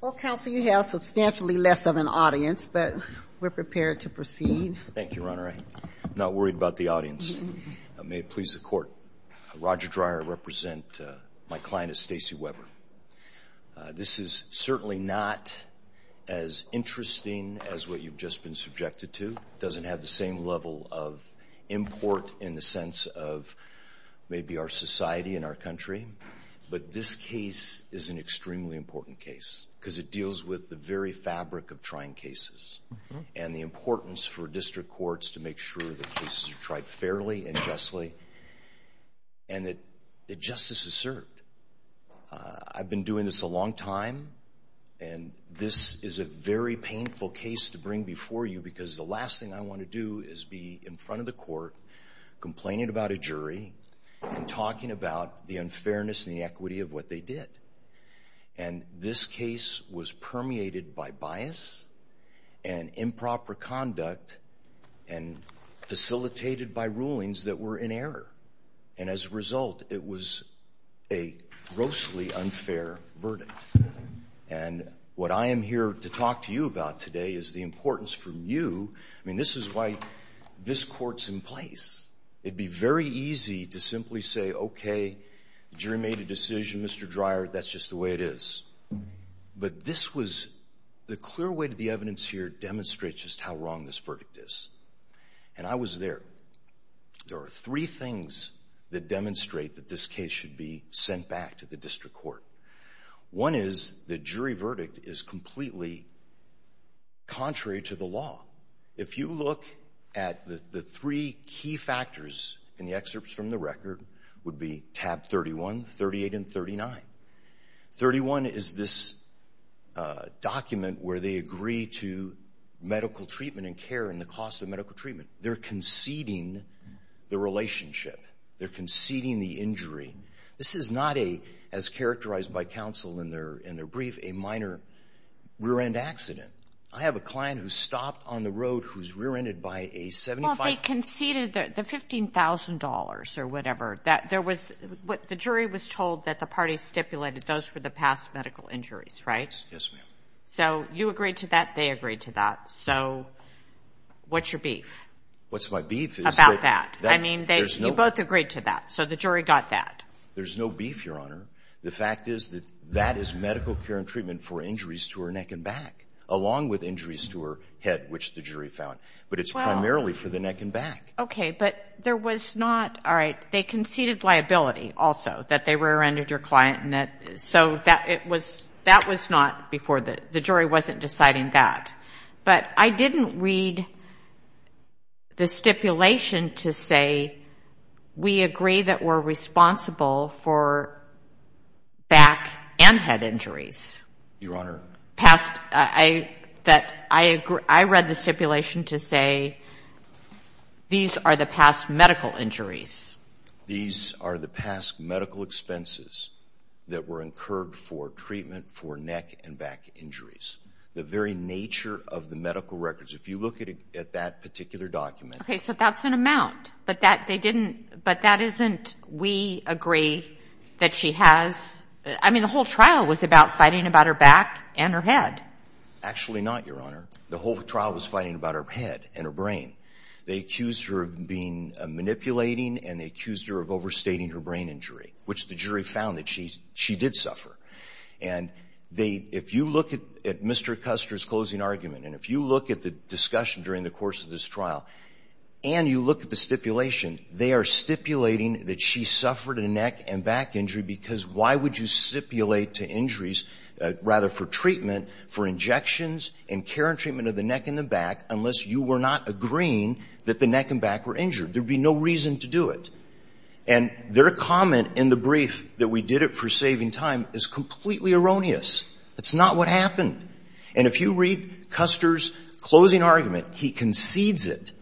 Well, Counsel, you have substantially less of an audience, but we're prepared to proceed. Thank you, Your Honor. I'm not worried about the audience. May it please the Court, Roger Dreyer, I represent my client, Stacey Weber. This is certainly not as interesting as what you've just been subjected to. It doesn't have the same level of import in the sense of maybe our society and our country. But this case is an extremely important case because it deals with the very fabric of trying cases and the importance for district courts to make sure that cases are tried fairly and justly and that justice is served. I've been doing this a long time, and this is a very painful case to bring before you because the last thing I want to do is be in front of the court complaining about a jury and talking about the unfairness and the equity of what they did. And this case was permeated by bias and improper conduct and facilitated by rulings that were in error. And as a result, it was a grossly unfair verdict. And what I am here to talk to you about today is the importance for you. I mean, this is why this Court's in place. It would be very easy to simply say, okay, the jury made a decision, Mr. Dreyer, that's just the way it is. But this was the clear way that the evidence here demonstrates just how wrong this verdict is. And I was there. There are three things that demonstrate that this case should be sent back to the district court. One is the jury verdict is completely contrary to the law. If you look at the three key factors in the excerpts from the record, would be tab 31, 38, and 39. 31 is this document where they agree to medical treatment and care and the cost of medical treatment. They're conceding the relationship. They're conceding the injury. This is not a, as characterized by counsel in their brief, a minor rear-end accident. I have a client who stopped on the road who's rear-ended by a 75- Well, they conceded the $15,000 or whatever. The jury was told that the party stipulated those were the past medical injuries, right? Yes, ma'am. So you agreed to that. They agreed to that. So what's your beef? What's my beef is that- About that. I mean, you both agreed to that. So the jury got that. There's no beef, Your Honor. The fact is that that is medical care and treatment for injuries to her neck and back, along with injuries to her head, which the jury found. But it's primarily for the neck and back. Okay, but there was not- All right, they conceded liability also, that they rear-ended your client. So that was not before the jury wasn't deciding that. But I didn't read the stipulation to say we agree that we're responsible for back and head injuries. Your Honor? I read the stipulation to say these are the past medical injuries. These are the past medical expenses that were incurred for treatment for neck and back injuries. The very nature of the medical records, if you look at that particular document- Okay, so that's an amount. But that isn't, we agree, that she has-I mean, the whole trial was about fighting about her back and her head. Actually not, Your Honor. The whole trial was fighting about her head and her brain. They accused her of being manipulating, and they accused her of overstating her brain injury, which the jury found that she did suffer. And they, if you look at Mr. Custer's closing argument, and if you look at the discussion during the course of this trial, and you look at the stipulation, they are stipulating that she suffered a neck and back injury because why would you stipulate to injuries rather for treatment for injections and care and treatment of the neck and the back unless you were not agreeing that the neck and back were injured? There would be no reason to do it. And their comment in the brief that we did it for saving time is completely erroneous. That's not what happened. And if you read Custer's closing argument, he concedes it.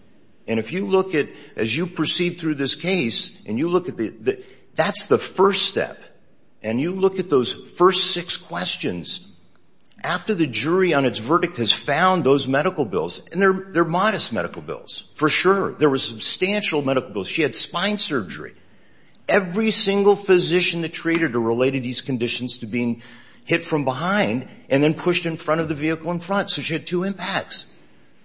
And if you look at, as you proceed through this case, and you look at the-that's the first step. And you look at those first six questions. After the jury on its verdict has found those medical bills, and they're modest medical bills, for sure. There were substantial medical bills. She had spine surgery. Every single physician that treated her related these conditions to being hit from behind and then pushed in front of the vehicle in front. So she had two impacts.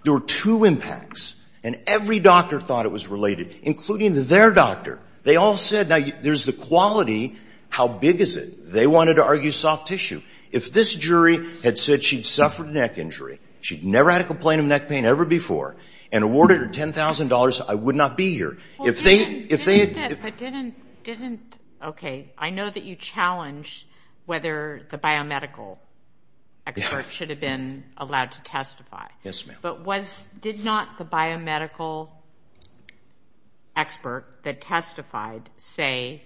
There were two impacts. And every doctor thought it was related, including their doctor. They all said, now, there's the quality. How big is it? They wanted to argue soft tissue. If this jury had said she'd suffered a neck injury, she'd never had a complaint of neck pain ever before, and awarded her $10,000, I would not be here. If they-if they- But didn't-but didn't-okay. I know that you challenge whether the biomedical expert should have been allowed to testify. Yes, ma'am. But was-did not the biomedical expert that testified say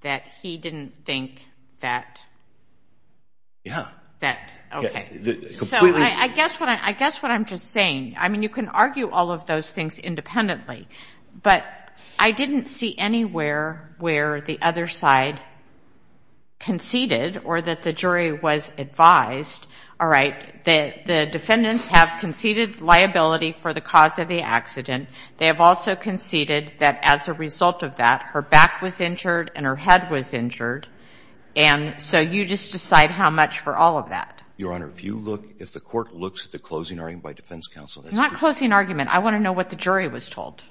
that he didn't think that- Yeah. That-okay. Completely- So I guess what I'm-I guess what I'm just saying, I mean, you can argue all of those things independently. But I didn't see anywhere where the other side conceded or that the jury was advised, all right, that the defendants have conceded liability for the cause of the accident. They have also conceded that as a result of that, her back was injured and her head was injured. And so you just decide how much for all of that. Your Honor, if you look-if the court looks at the closing argument by defense counsel, that's- Not closing argument. I want to know what the jury was told.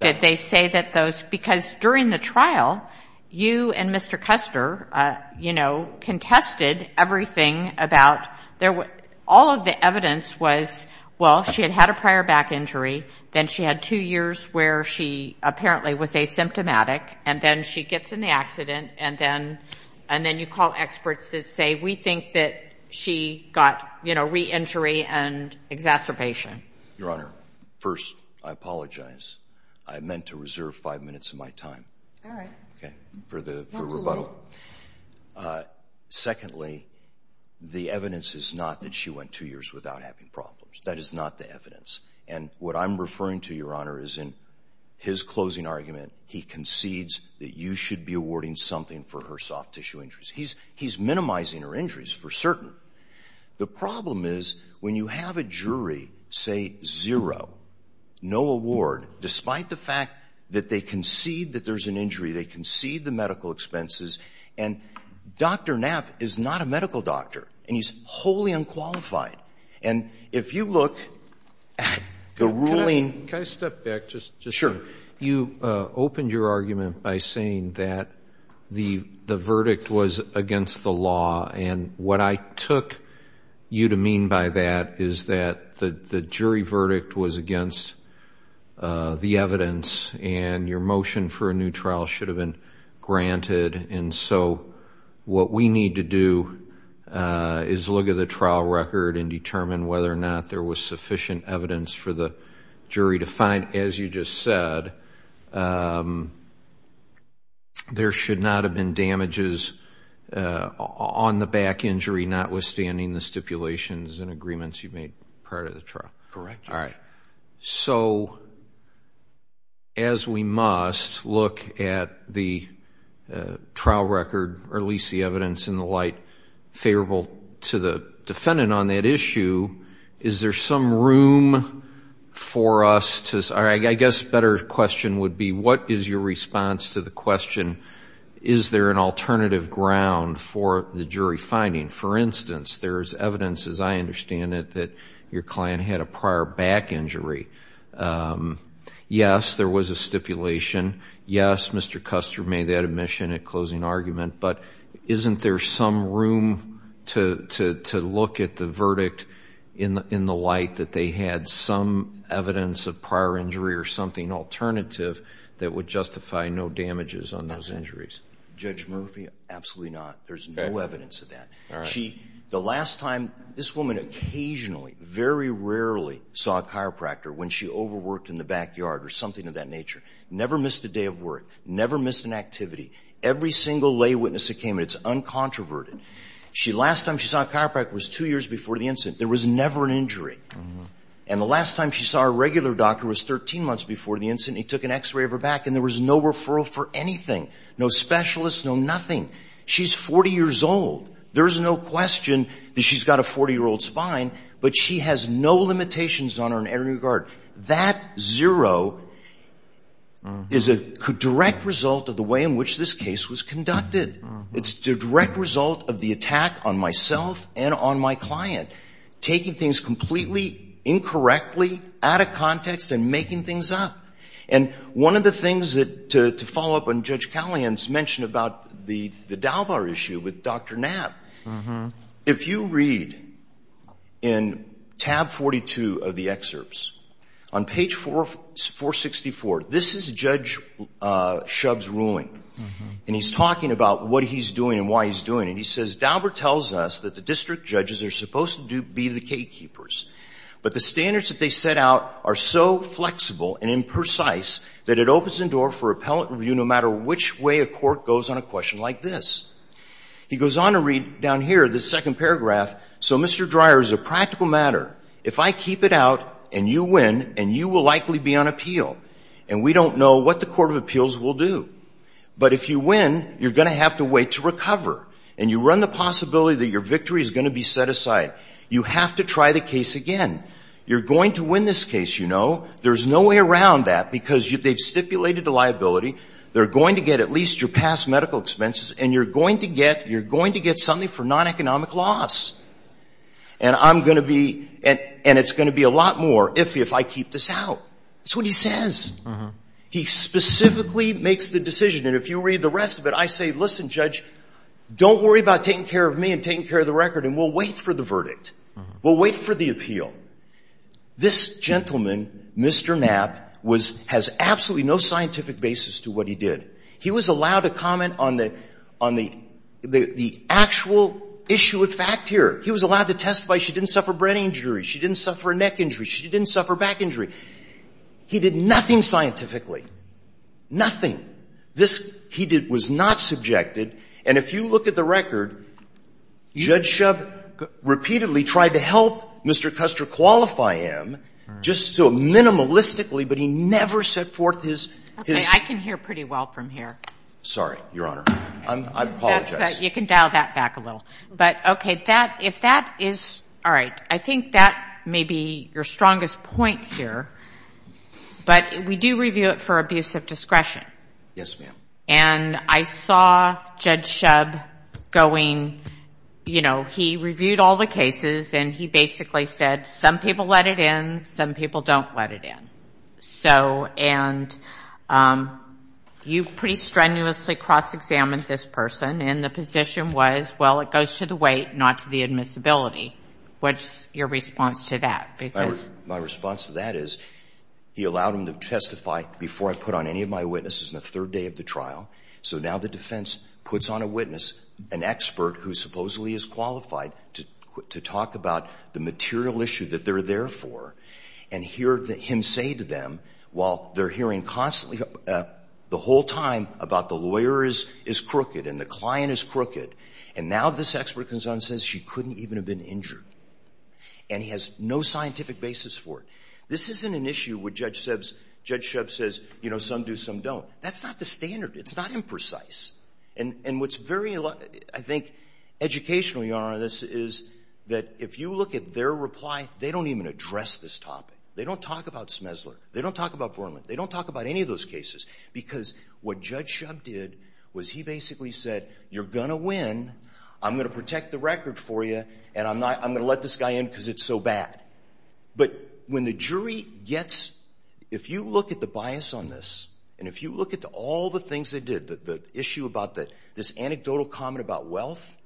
Did they say that those-because during the trial, you and Mr. Custer, you know, contested everything about-all of the evidence was, well, she had had a prior back injury. Then she had two years where she apparently was asymptomatic. And then she gets in the accident. And then-and then you call experts that say, we think that she got, you know, re-injury and exacerbation. Your Honor, first, I apologize. I meant to reserve five minutes of my time. All right. Okay. For the-for rebuttal. Absolutely. Secondly, the evidence is not that she went two years without having problems. That is not the evidence. And what I'm referring to, Your Honor, is in his closing argument, he concedes that you should be awarding something for her soft tissue injuries. He's-he's minimizing her injuries for certain. The problem is when you have a jury say zero, no award, despite the fact that they concede that there's an injury, they concede the medical expenses, and Dr. Knapp is not a medical doctor and he's wholly unqualified. And if you look at the ruling- Can I step back just- Sure. You opened your argument by saying that the verdict was against the law. And what I took you to mean by that is that the jury verdict was against the evidence and your motion for a new trial should have been granted. And so what we need to do is look at the trial record and determine whether or not there was sufficient evidence for the jury to find. And whether or not, as you just said, there should not have been damages on the back injury, notwithstanding the stipulations and agreements you made prior to the trial. Correct. All right. So as we must look at the trial record or at least the evidence in the light favorable to the defendant on that issue, is there some room for us to- I guess a better question would be what is your response to the question, is there an alternative ground for the jury finding? For instance, there's evidence, as I understand it, that your client had a prior back injury. Yes, there was a stipulation. Yes, Mr. Custer made that admission at closing argument. But isn't there some room to look at the verdict in the light that they had some evidence of prior injury or something alternative that would justify no damages on those injuries? Judge Murphy, absolutely not. There's no evidence of that. The last time this woman occasionally, very rarely saw a chiropractor when she overworked in the backyard or something of that nature. Never missed a day of work. Never missed an activity. Every single lay witness that came in, it's uncontroverted. The last time she saw a chiropractor was two years before the incident. There was never an injury. And the last time she saw a regular doctor was 13 months before the incident. He took an x-ray of her back and there was no referral for anything. No specialists, no nothing. She's 40 years old. There's no question that she's got a 40-year-old spine, but she has no limitations on her in any regard. That zero is a direct result of the way in which this case was conducted. It's the direct result of the attack on myself and on my client, taking things completely incorrectly, out of context, and making things up. And one of the things to follow up on Judge Callahan's mention about the Dalbar issue with Dr. Knapp, if you read in tab 42 of the excerpts, on page 464, this is Judge Shub's ruling. And he's talking about what he's doing and why he's doing it. He says, Dalbar tells us that the district judges are supposed to be the gatekeepers, but the standards that they set out are so flexible and imprecise that it opens the door for appellate review no matter which way a court goes on a question like this. He goes on to read down here, this second paragraph, so Mr. Dreyer, as a practical matter, if I keep it out and you win, and you will likely be on appeal, and we don't know what the Court of Appeals will do. But if you win, you're going to have to wait to recover, and you run the possibility that your victory is going to be set aside. You have to try the case again. You're going to win this case, you know. There's no way around that because they've stipulated a liability. They're going to get at least your past medical expenses, and you're going to get something for non-economic loss. And I'm going to be, and it's going to be a lot more if I keep this out. That's what he says. He specifically makes the decision, and if you read the rest of it, I say, listen, Judge, don't worry about taking care of me and taking care of the record, and we'll wait for the verdict. We'll wait for the appeal. This gentleman, Mr. Knapp, was, has absolutely no scientific basis to what he did. He was allowed to comment on the actual issue of fact here. He was allowed to testify she didn't suffer brain injury, she didn't suffer neck injury, she didn't suffer back injury. He did nothing scientifically. Nothing. This, he did, was not subjected, and if you look at the record, Judge Shub repeatedly tried to help Mr. Custer qualify him just so minimalistically, but he never set forth his, his. Okay. I can hear pretty well from here. Sorry, Your Honor. I apologize. That's fine. You can dial that back a little. But, okay, that, if that is, all right, I think that may be your strongest point here, but we do review it for abuse of discretion. Yes, ma'am. And I saw Judge Shub going, you know, he reviewed all the cases, and he basically said some people let it in, some people don't let it in. So, and you pretty strenuously cross-examined this person, and the position was, well, it goes to the weight, not to the admissibility. What's your response to that? My response to that is he allowed him to testify before I put on any of my witnesses in the trial, so now the defense puts on a witness, an expert who supposedly is qualified to talk about the material issue that they're there for, and hear him say to them, while they're hearing constantly, the whole time about the lawyer is crooked and the client is crooked, and now this expert comes on and says she couldn't even have been injured. And he has no scientific basis for it. This isn't an issue where Judge Shub says, you know, some do, some don't. That's not the standard. It's not imprecise. And what's very, I think, educational, Your Honor, on this is that if you look at their reply, they don't even address this topic. They don't talk about Smesler. They don't talk about Borman. They don't talk about any of those cases, because what Judge Shub did was he basically said, you're going to win, I'm going to protect the record for you, and I'm going to let this guy in because it's so bad. But when the jury gets, if you look at the bias on this, and if you look at all the things they did, the issue about this anecdotal comment about wealth,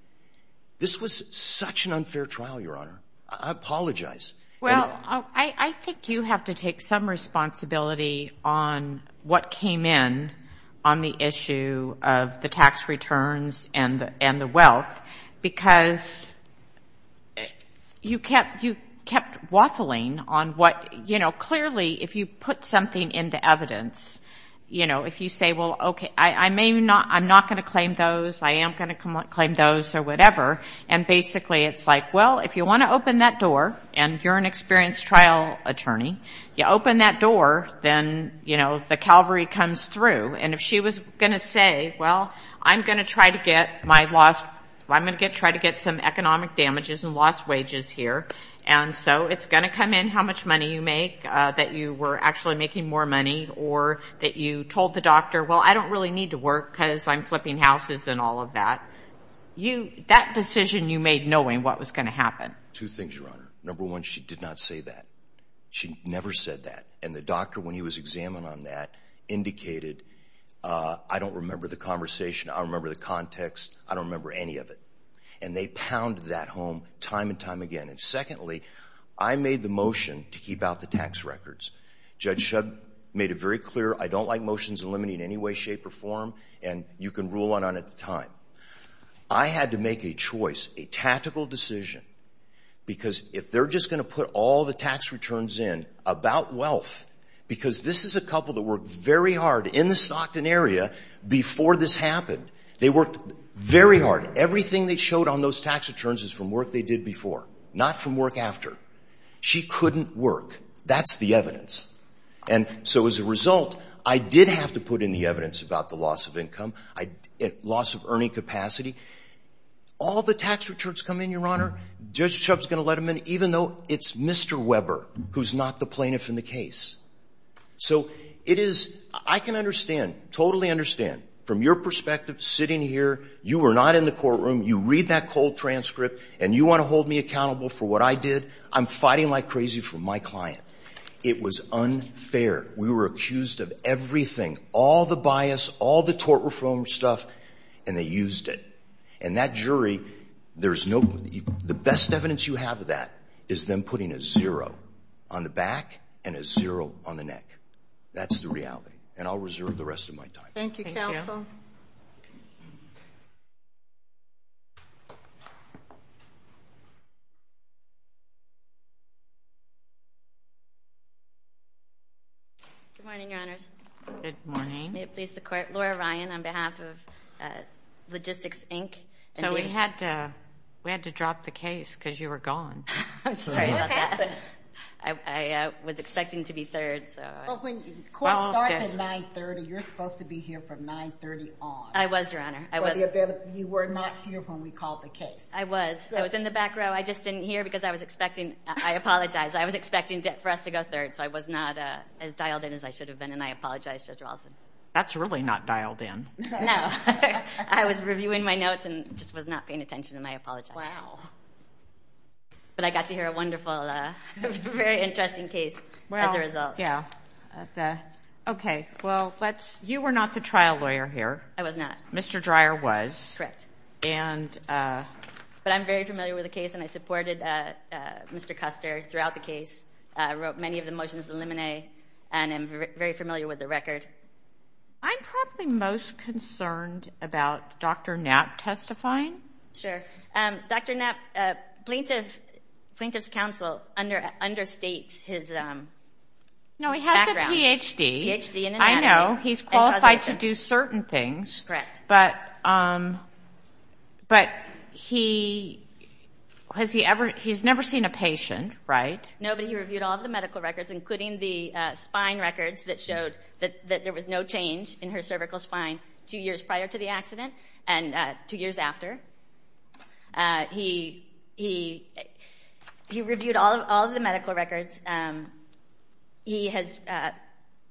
this was such an unfair trial, Your Honor. I apologize. Well, I think you have to take some responsibility on what came in on the evidence, you know, if you say, well, okay, I may not, I'm not going to claim those, I am going to claim those or whatever, and basically it's like, well, if you want to open that door, and you're an experienced trial attorney, you open that door, then, you know, the calvary comes through. And if she was going to say, well, I'm going to try to get my lost, I'm going to try to get my lost, and you know, it's going to come in how much money you make, that you were actually making more money, or that you told the doctor, well, I don't really need to work because I'm flipping houses and all of that. That decision you made knowing what was going to happen. Two things, Your Honor. Number one, she did not say that. She never said that. And the doctor, when he was examined on that, indicated, I don't remember the conversation, I don't remember the context, I don't remember any of it. And they pounded that home time and time again. And secondly, I made the motion to keep out the tax records. Judge Shub made it very clear, I don't like motions eliminating any way, shape, or form, and you can rule on it at the time. I had to make a choice, a tactical decision, because if they're just going to put all the tax returns in about wealth, because this is a couple that worked very hard in the Stockton area before this happened. They worked very hard. Everything they showed on those tax returns is from work they did before, not from work after. She couldn't work. That's the evidence. And so as a result, I did have to put in the evidence about the loss of income, loss of earning capacity. All the tax returns come in, Your Honor, Judge Shub's going to let them in, even though it's Mr. Weber who's not the plaintiff in the case. So it is, I can understand, totally understand, from your perspective, sitting here, you were not in the courtroom, you read that cold transcript, and you want to hold me accountable for what I did? I'm fighting like crazy for my client. It was unfair. We were accused of everything, all the bias, all the tort reform stuff, and they used it. And that jury, there's no – the best evidence you have of that is them putting a zero on the back and a zero on the neck. That's the reality. And I'll reserve the rest of my time. Thank you, counsel. Good morning, Your Honors. Good morning. May it please the Court. Laura Ryan on behalf of Logistics, Inc. So we had to drop the case because you were gone. I'm sorry about that. What happened? I was expecting to be third, so. Well, when court starts at 930, you're supposed to be here from 930 on. I was, Your Honor. You were not here when we called the case. I was. I was in the back row. I just didn't hear because I was expecting – I apologize. I was expecting for us to go third, so I was not as dialed in as I should have been, and I apologize, Judge Rawson. That's really not dialed in. No. I was reviewing my notes and just was not paying attention, and I apologize. Wow. But I got to hear a wonderful, very interesting case as a result. Yeah. Okay. Well, let's – You were not the trial lawyer here. I was not. Mr. Dreyer was. Correct. And – But I'm very familiar with the case, and I supported Mr. Custer throughout the case. I wrote many of the motions, the lemonade, and I'm very familiar with the record. I'm probably most concerned about Dr. Knapp testifying. Sure. Dr. Knapp, plaintiff's counsel understates his background. No, he has a Ph.D. Ph.D. in anatomy. I know. He's qualified to do certain things. Correct. But he – has he ever – he's never seen a patient, right? No, but he reviewed all of the medical records, including the spine records that showed that there was no change in her cervical spine two years prior to the accident and two years after. He reviewed all of the medical records. He has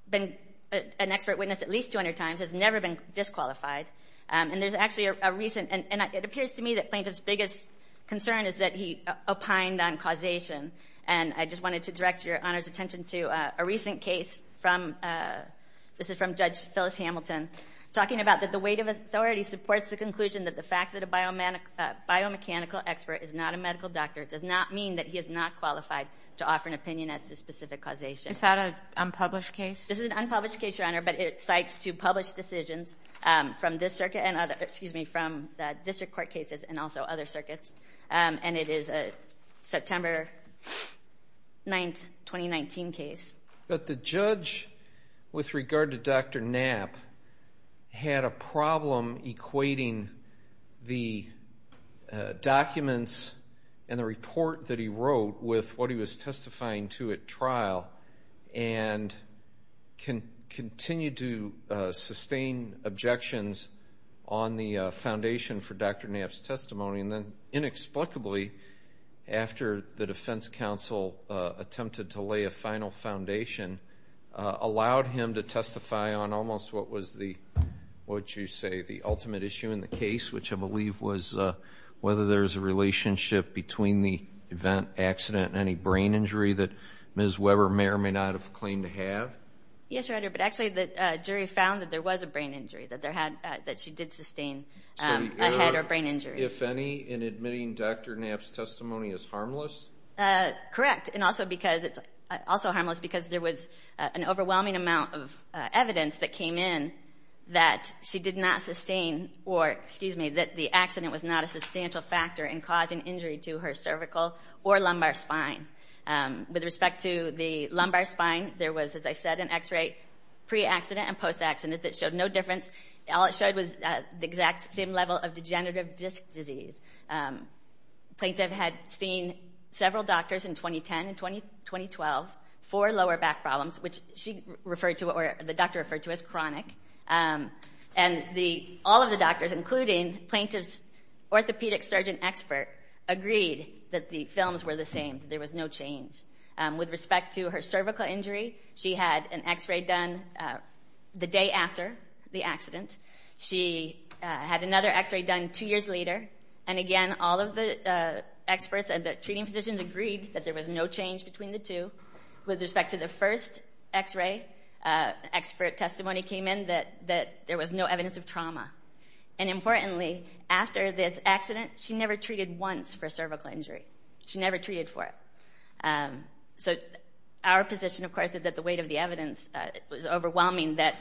been an expert witness at least 200 times, has never been disqualified. And there's actually a recent – and it appears to me that plaintiff's biggest concern is that he opined on causation. And I just wanted to direct your Honor's attention to a recent case from – talking about that the weight of authority supports the conclusion that the fact that a biomechanical expert is not a medical doctor does not mean that he is not qualified to offer an opinion as to specific causation. Is that an unpublished case? This is an unpublished case, Your Honor, but it cites two published decisions from this circuit and other – excuse me, from the district court cases and also other circuits. And it is a September 9, 2019 case. But the judge, with regard to Dr. Knapp, had a problem equating the documents and the report that he wrote with what he was testifying to at trial and continued to sustain objections on the foundation for Dr. Knapp's testimony. And then inexplicably, after the defense counsel attempted to lay a final foundation, allowed him to testify on almost what was the – what you say, the ultimate issue in the case, which I believe was whether there was a relationship between the event, accident, and any brain injury that Ms. Weber may or may not have claimed to have. Yes, Your Honor, but actually the jury found that there was a brain injury, that she did sustain a head or brain injury. If any, in admitting Dr. Knapp's testimony is harmless? Correct, and also because it's – also harmless because there was an overwhelming amount of evidence that came in that she did not sustain – or, excuse me, that the accident was not a substantial factor in causing injury to her cervical or lumbar spine. With respect to the lumbar spine, there was, as I said, an X-ray pre-accident and post-accident that showed no difference. All it showed was the exact same level of degenerative disc disease. The plaintiff had seen several doctors in 2010 and 2012 for lower back problems, which she referred to – or the doctor referred to as chronic. And all of the doctors, including the plaintiff's orthopedic surgeon expert, agreed that the films were the same, there was no change. With respect to her cervical injury, she had an X-ray done the day after the accident. She had another X-ray done two years later. And again, all of the experts and the treating physicians agreed that there was no change between the two. With respect to the first X-ray, expert testimony came in that there was no evidence of trauma. And importantly, after this accident, she never treated once for cervical injury. She never treated for it. So our position, of course, is that the weight of the evidence was overwhelming, that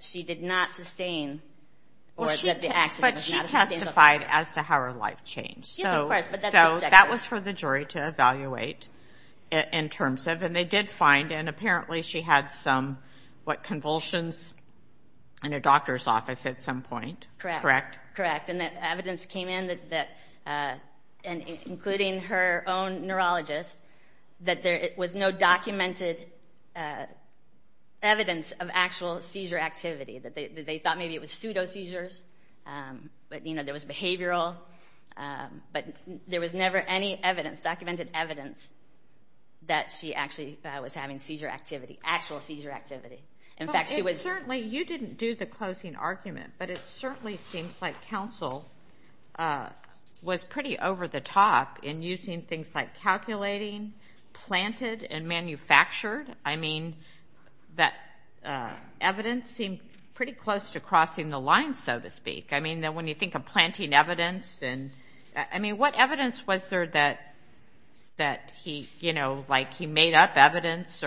she did not sustain or that the accident was not a substantial factor. But she testified as to how her life changed. Yes, of course, but that's objective. So that was for the jury to evaluate in terms of. And they did find, and apparently she had some convulsions in her doctor's office at some point. Correct. Correct. And evidence came in, including her own neurologist, that there was no documented evidence of actual seizure activity. They thought maybe it was pseudo seizures, but there was behavioral. But there was never any evidence, documented evidence, that she actually was having seizure activity, actual seizure activity. In fact, she was. Certainly, you didn't do the closing argument, but it certainly seems like counsel was pretty over the top in using things like calculating, planted, and manufactured. I mean, that evidence seemed pretty close to crossing the line, so to speak. I mean, when you think of planting evidence, what evidence was there that he made up evidence?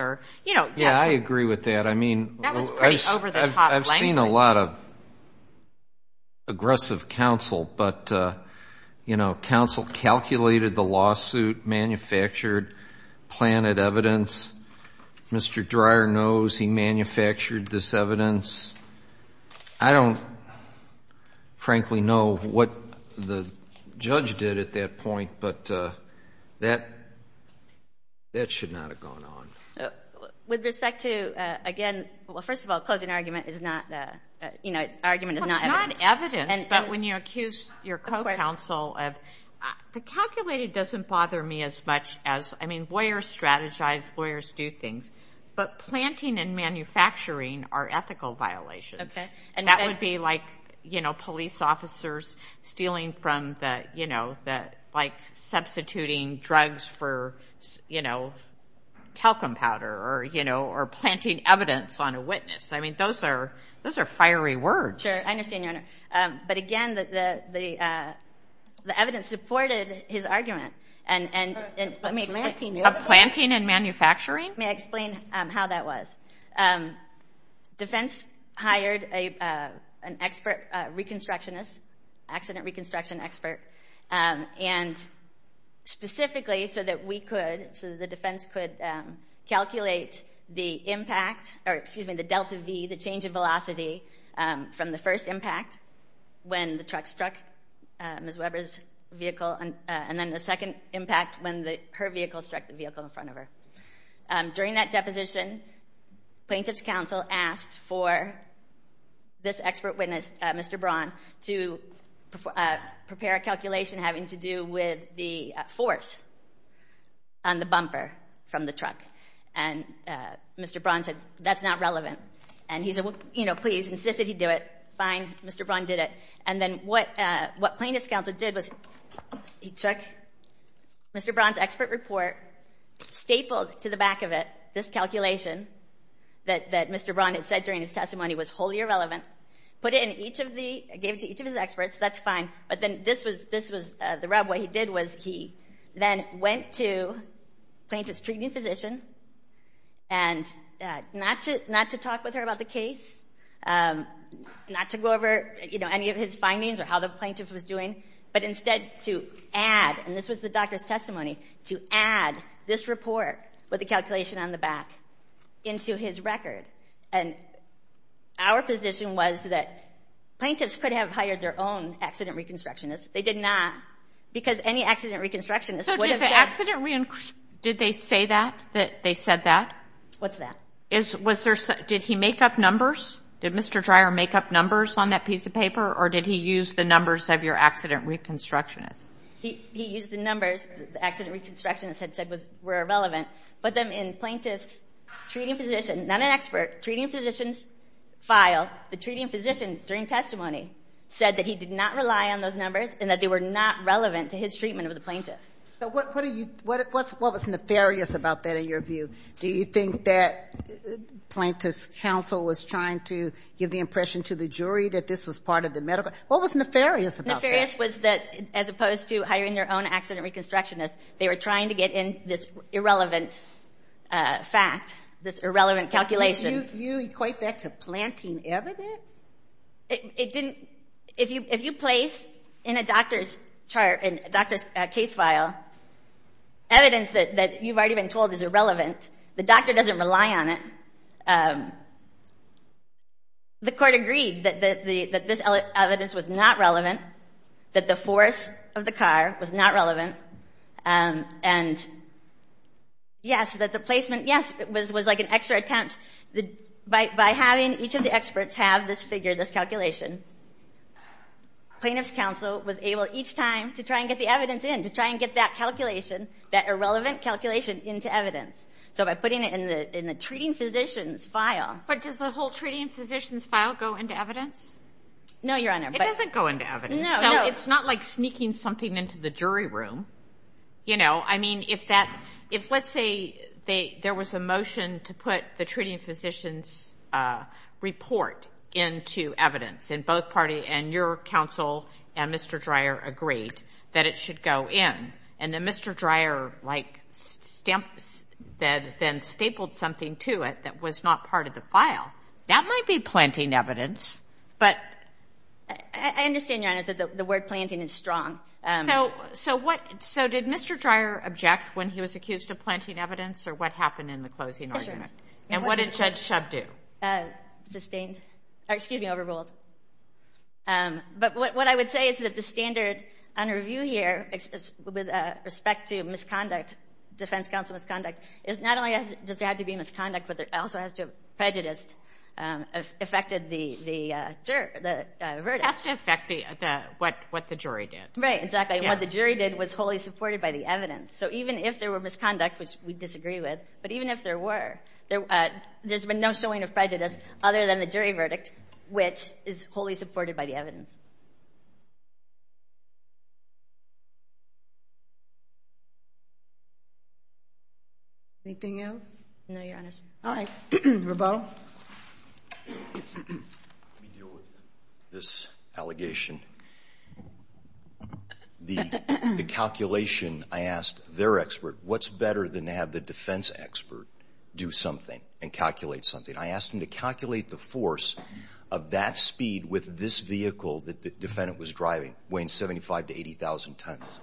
Yeah, I agree with that. That was pretty over the top language. I've seen a lot of aggressive counsel, but counsel calculated the lawsuit, manufactured, planted evidence. Mr. Dreyer knows he manufactured this evidence. I don't, frankly, know what the judge did at that point, but that should not have gone on. With respect to, again, well, first of all, closing argument is not evidence. Well, it's not evidence, but when you accuse your co-counsel of, the calculated doesn't bother me as much as, I mean, lawyers strategize, lawyers do things, but planting and manufacturing are ethical violations, and that would be like police officers stealing from the, like substituting drugs for talcum powder or planting evidence on a witness. I mean, those are fiery words. Sure, I understand, Your Honor, but, again, the evidence supported his argument. Planting and manufacturing? May I explain how that was? Defense hired an expert reconstructionist, accident reconstruction expert, and specifically so that we could, so that the defense could calculate the impact, or excuse me, the delta V, the change in velocity, from the first impact when the truck struck Ms. Weber's vehicle and then the second impact when her vehicle struck the vehicle in front of her. During that deposition, plaintiff's counsel asked for this expert witness, Mr. Braun, to prepare a calculation having to do with the force on the bumper from the truck, and Mr. Braun said, that's not relevant, and he said, you know, please, insisted he do it. Fine, Mr. Braun did it, and then what plaintiff's counsel did was he took Mr. Braun's expert report, stapled to the back of it this calculation that Mr. Braun had said during his testimony was wholly irrelevant, put it in each of the, gave it to each of his experts, that's fine, but then this was the rub. What he did was he then went to plaintiff's treating physician and not to talk with her about the case, not to go over, you know, any of his findings or how the plaintiff was doing, but instead to add, and this was the doctor's testimony, to add this report with the calculation on the back into his record, and our position was that plaintiffs could have hired their own accident reconstructionist. They did not because any accident reconstructionist would have said. So did the accident, did they say that, that they said that? What's that? Did he make up numbers? Did Mr. Dreier make up numbers on that piece of paper or did he use the numbers of your accident reconstructionist? He used the numbers the accident reconstructionist had said were irrelevant, but then in plaintiff's treating physician, not an expert, treating physician's file, the treating physician during testimony said that he did not rely on those numbers and that they were not relevant to his treatment of the plaintiff. But what are you, what was nefarious about that in your view? Do you think that plaintiff's counsel was trying to give the impression to the jury that this was part of the medical, what was nefarious about that? Nefarious was that as opposed to hiring their own accident reconstructionist, they were trying to get in this irrelevant fact, this irrelevant calculation. You equate that to planting evidence? It didn't, if you place in a doctor's chart, in a doctor's case file, evidence that you've already been told is irrelevant, the doctor doesn't rely on it. The court agreed that this evidence was not relevant, that the force of the car was not relevant, and yes, that the placement, yes, was like an extra attempt. By having each of the experts have this figure, this calculation, plaintiff's counsel was able each time to try and get the evidence in, to try and get that calculation, that irrelevant calculation into evidence. So by putting it in the treating physician's file. But does the whole treating physician's file go into evidence? No, Your Honor. It doesn't go into evidence. No, no. It's not like sneaking something into the jury room. I mean, if let's say there was a motion to put the treating physician's report into evidence, and both parties, and your counsel and Mr. Dreyer agreed that it should go in, and then Mr. Dreyer like stamped, then stapled something to it that was not part of the file, that might be planting evidence, but. I understand, Your Honor, that the word planting is strong. So what, so did Mr. Dreyer object when he was accused of planting evidence, or what happened in the closing argument? And what did Judge Shub do? Sustained. Excuse me, overruled. But what I would say is that the standard under review here with respect to misconduct, defense counsel misconduct, is not only does there have to be misconduct, but there also has to have prejudice affected the verdict. It has to affect what the jury did. Right, exactly. And what the jury did was wholly supported by the evidence. So even if there were misconduct, which we disagree with, but even if there were, there's been no showing of prejudice other than the jury verdict, which is wholly supported by the evidence. Anything else? No, Your Honor. All right. Rebaul. Let me deal with this allegation. The calculation, I asked their expert, what's better than to have the defense expert do something and calculate something? I asked him to calculate the force of that speed with this vehicle that the defendant was driving, weighing 75,000 to 80,000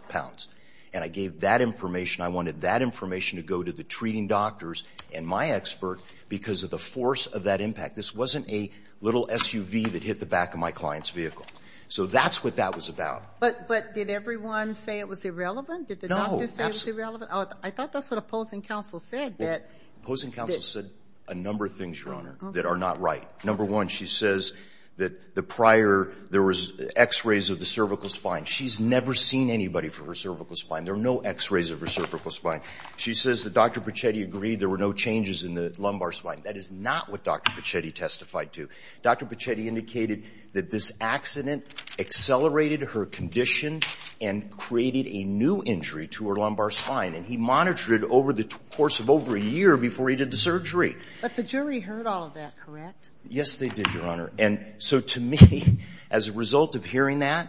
pounds. And I gave that information. I wanted that information to go to the treating doctors and my expert because of the force of that impact. This wasn't a little SUV that hit the back of my client's vehicle. So that's what that was about. But did everyone say it was irrelevant? No. Did the doctor say it was irrelevant? I thought that's what opposing counsel said. Well, opposing counsel said a number of things, Your Honor, that are not right. Number one, she says that the prior, there was X-rays of the cervical spine. She's never seen anybody for her cervical spine. There are no X-rays of her cervical spine. She says that Dr. Pichetti agreed there were no changes in the lumbar spine. That is not what Dr. Pichetti testified to. Dr. Pichetti indicated that this accident accelerated her condition and created a new injury to her lumbar spine. And he monitored it over the course of over a year before he did the surgery. But the jury heard all of that, correct? Yes, they did, Your Honor. And so to me, as a result of hearing that,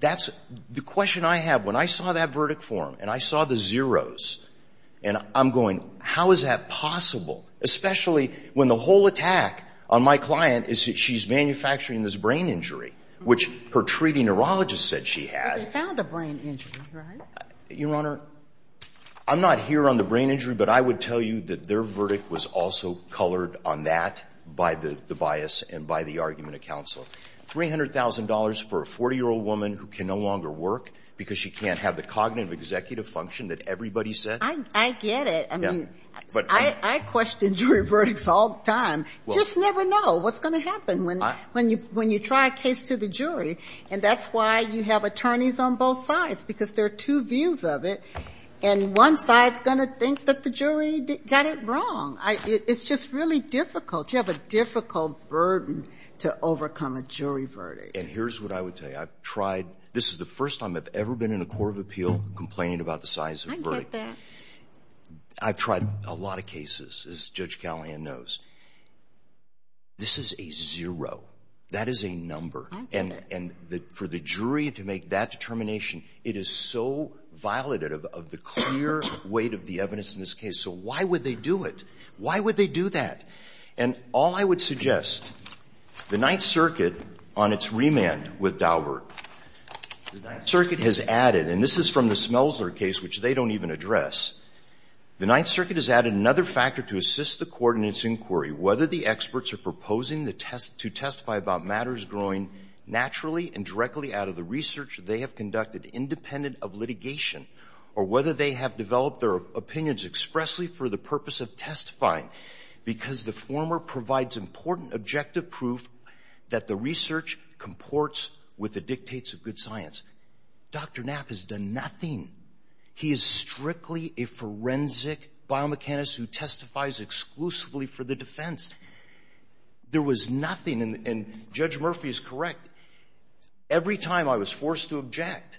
that's the question I have. When I saw that verdict form and I saw the zeros, and I'm going, how is that possible, especially when the whole attack on my client is that she's manufacturing this brain injury, which her treating neurologist said she had. But they found a brain injury, right? Your Honor, I'm not here on the brain injury, but I would tell you that their verdict was also colored on that by the bias and by the argument of counsel. $300,000 for a 40-year-old woman who can no longer work because she can't have the cognitive executive function that everybody said? I get it. I mean, I question jury verdicts all the time. Just never know what's going to happen when you try a case to the jury. And that's why you have attorneys on both sides, because there are two views of it. And one side is going to think that the jury got it wrong. It's just really difficult. You have a difficult burden to overcome a jury verdict. And here's what I would tell you. I've tried. This is the first time I've ever been in a court of appeal complaining about the size of a verdict. I get that. I've tried a lot of cases, as Judge Callahan knows. This is a zero. That is a number. And for the jury to make that determination, it is so violative of the clear weight of the evidence in this case. So why would they do it? Why would they do that? And all I would suggest, the Ninth Circuit, on its remand with Daubert, the Ninth Circuit has added, and this is from the Smelser case, which they don't even address, the Ninth Circuit has added another factor to assist the court in its inquiry. Whether the experts are proposing to testify about matters growing naturally and directly out of the research they have conducted independent of litigation, or whether they have developed their opinions expressly for the purpose of testifying because the former provides important objective proof that the research comports with the dictates of good science. Dr. Knapp has done nothing. He is strictly a forensic biomechanist who testifies exclusively for the defense. There was nothing. And Judge Murphy is correct. Every time I was forced to object,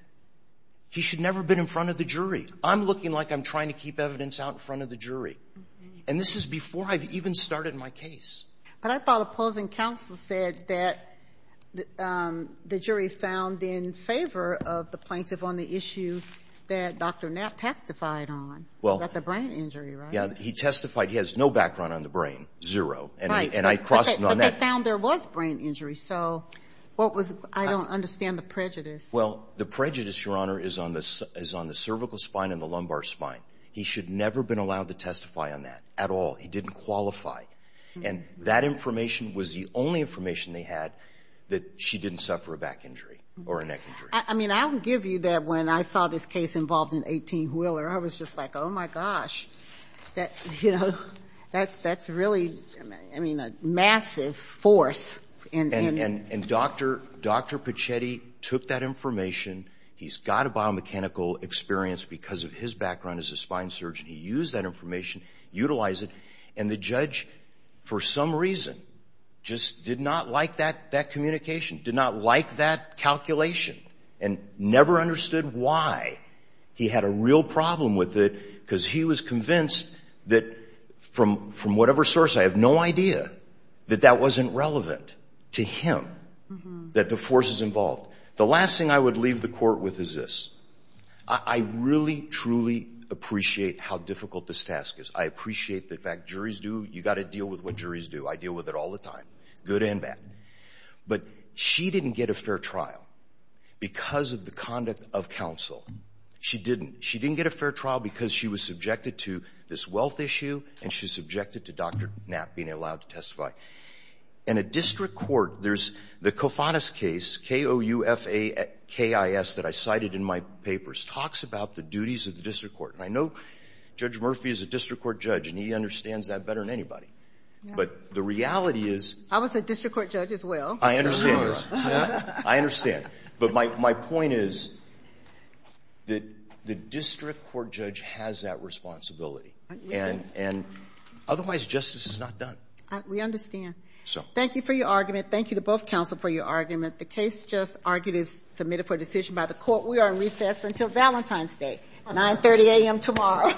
he should never have been in front of the jury. I'm looking like I'm trying to keep evidence out in front of the jury. And this is before I've even started my case. But I thought opposing counsel said that the jury found in favor of the plaintiff on the issue that Dr. Knapp testified on, that the brain injury, right? Yeah. He testified. He has no background on the brain, zero. And I crossed him on that. But they found there was brain injury. So what was the – I don't understand the prejudice. Well, the prejudice, Your Honor, is on the cervical spine and the lumbar spine. He should never have been allowed to testify on that at all. He didn't qualify. And that information was the only information they had that she didn't suffer a back injury or a neck injury. I mean, I'll give you that when I saw this case involved in 18 Wheeler, I was just like, oh, my gosh, that's really, I mean, a massive force. And Dr. Pichetti took that information. He's got a biomechanical experience because of his background as a spine surgeon. He used that information, utilized it. And the judge, for some reason, just did not like that communication, did not like that calculation and never understood why he had a real problem with it because he was convinced that from whatever source, I have no idea that that wasn't relevant to him, that the force is involved. The last thing I would leave the court with is this. I really, truly appreciate how difficult this task is. I appreciate the fact juries do. You've got to deal with what juries do. I deal with it all the time, good and bad. But she didn't get a fair trial because of the conduct of counsel. She didn't. She didn't get a fair trial because she was subjected to this wealth issue and she was subjected to Dr. Knapp being allowed to testify. In a district court, there's the Kofanis case, K-O-U-F-A-K-I-S, that I cited in my papers, talks about the duties of the district court. And I know Judge Murphy is a district court judge, and he understands that better than anybody. But the reality is — He's a district court judge as well. I understand. I understand. But my point is that the district court judge has that responsibility. And otherwise, justice is not done. We understand. Thank you for your argument. Thank you to both counsel for your argument. The case just argued is submitted for decision by the court. We are in recess until Valentine's Day, 930 a.m. tomorrow.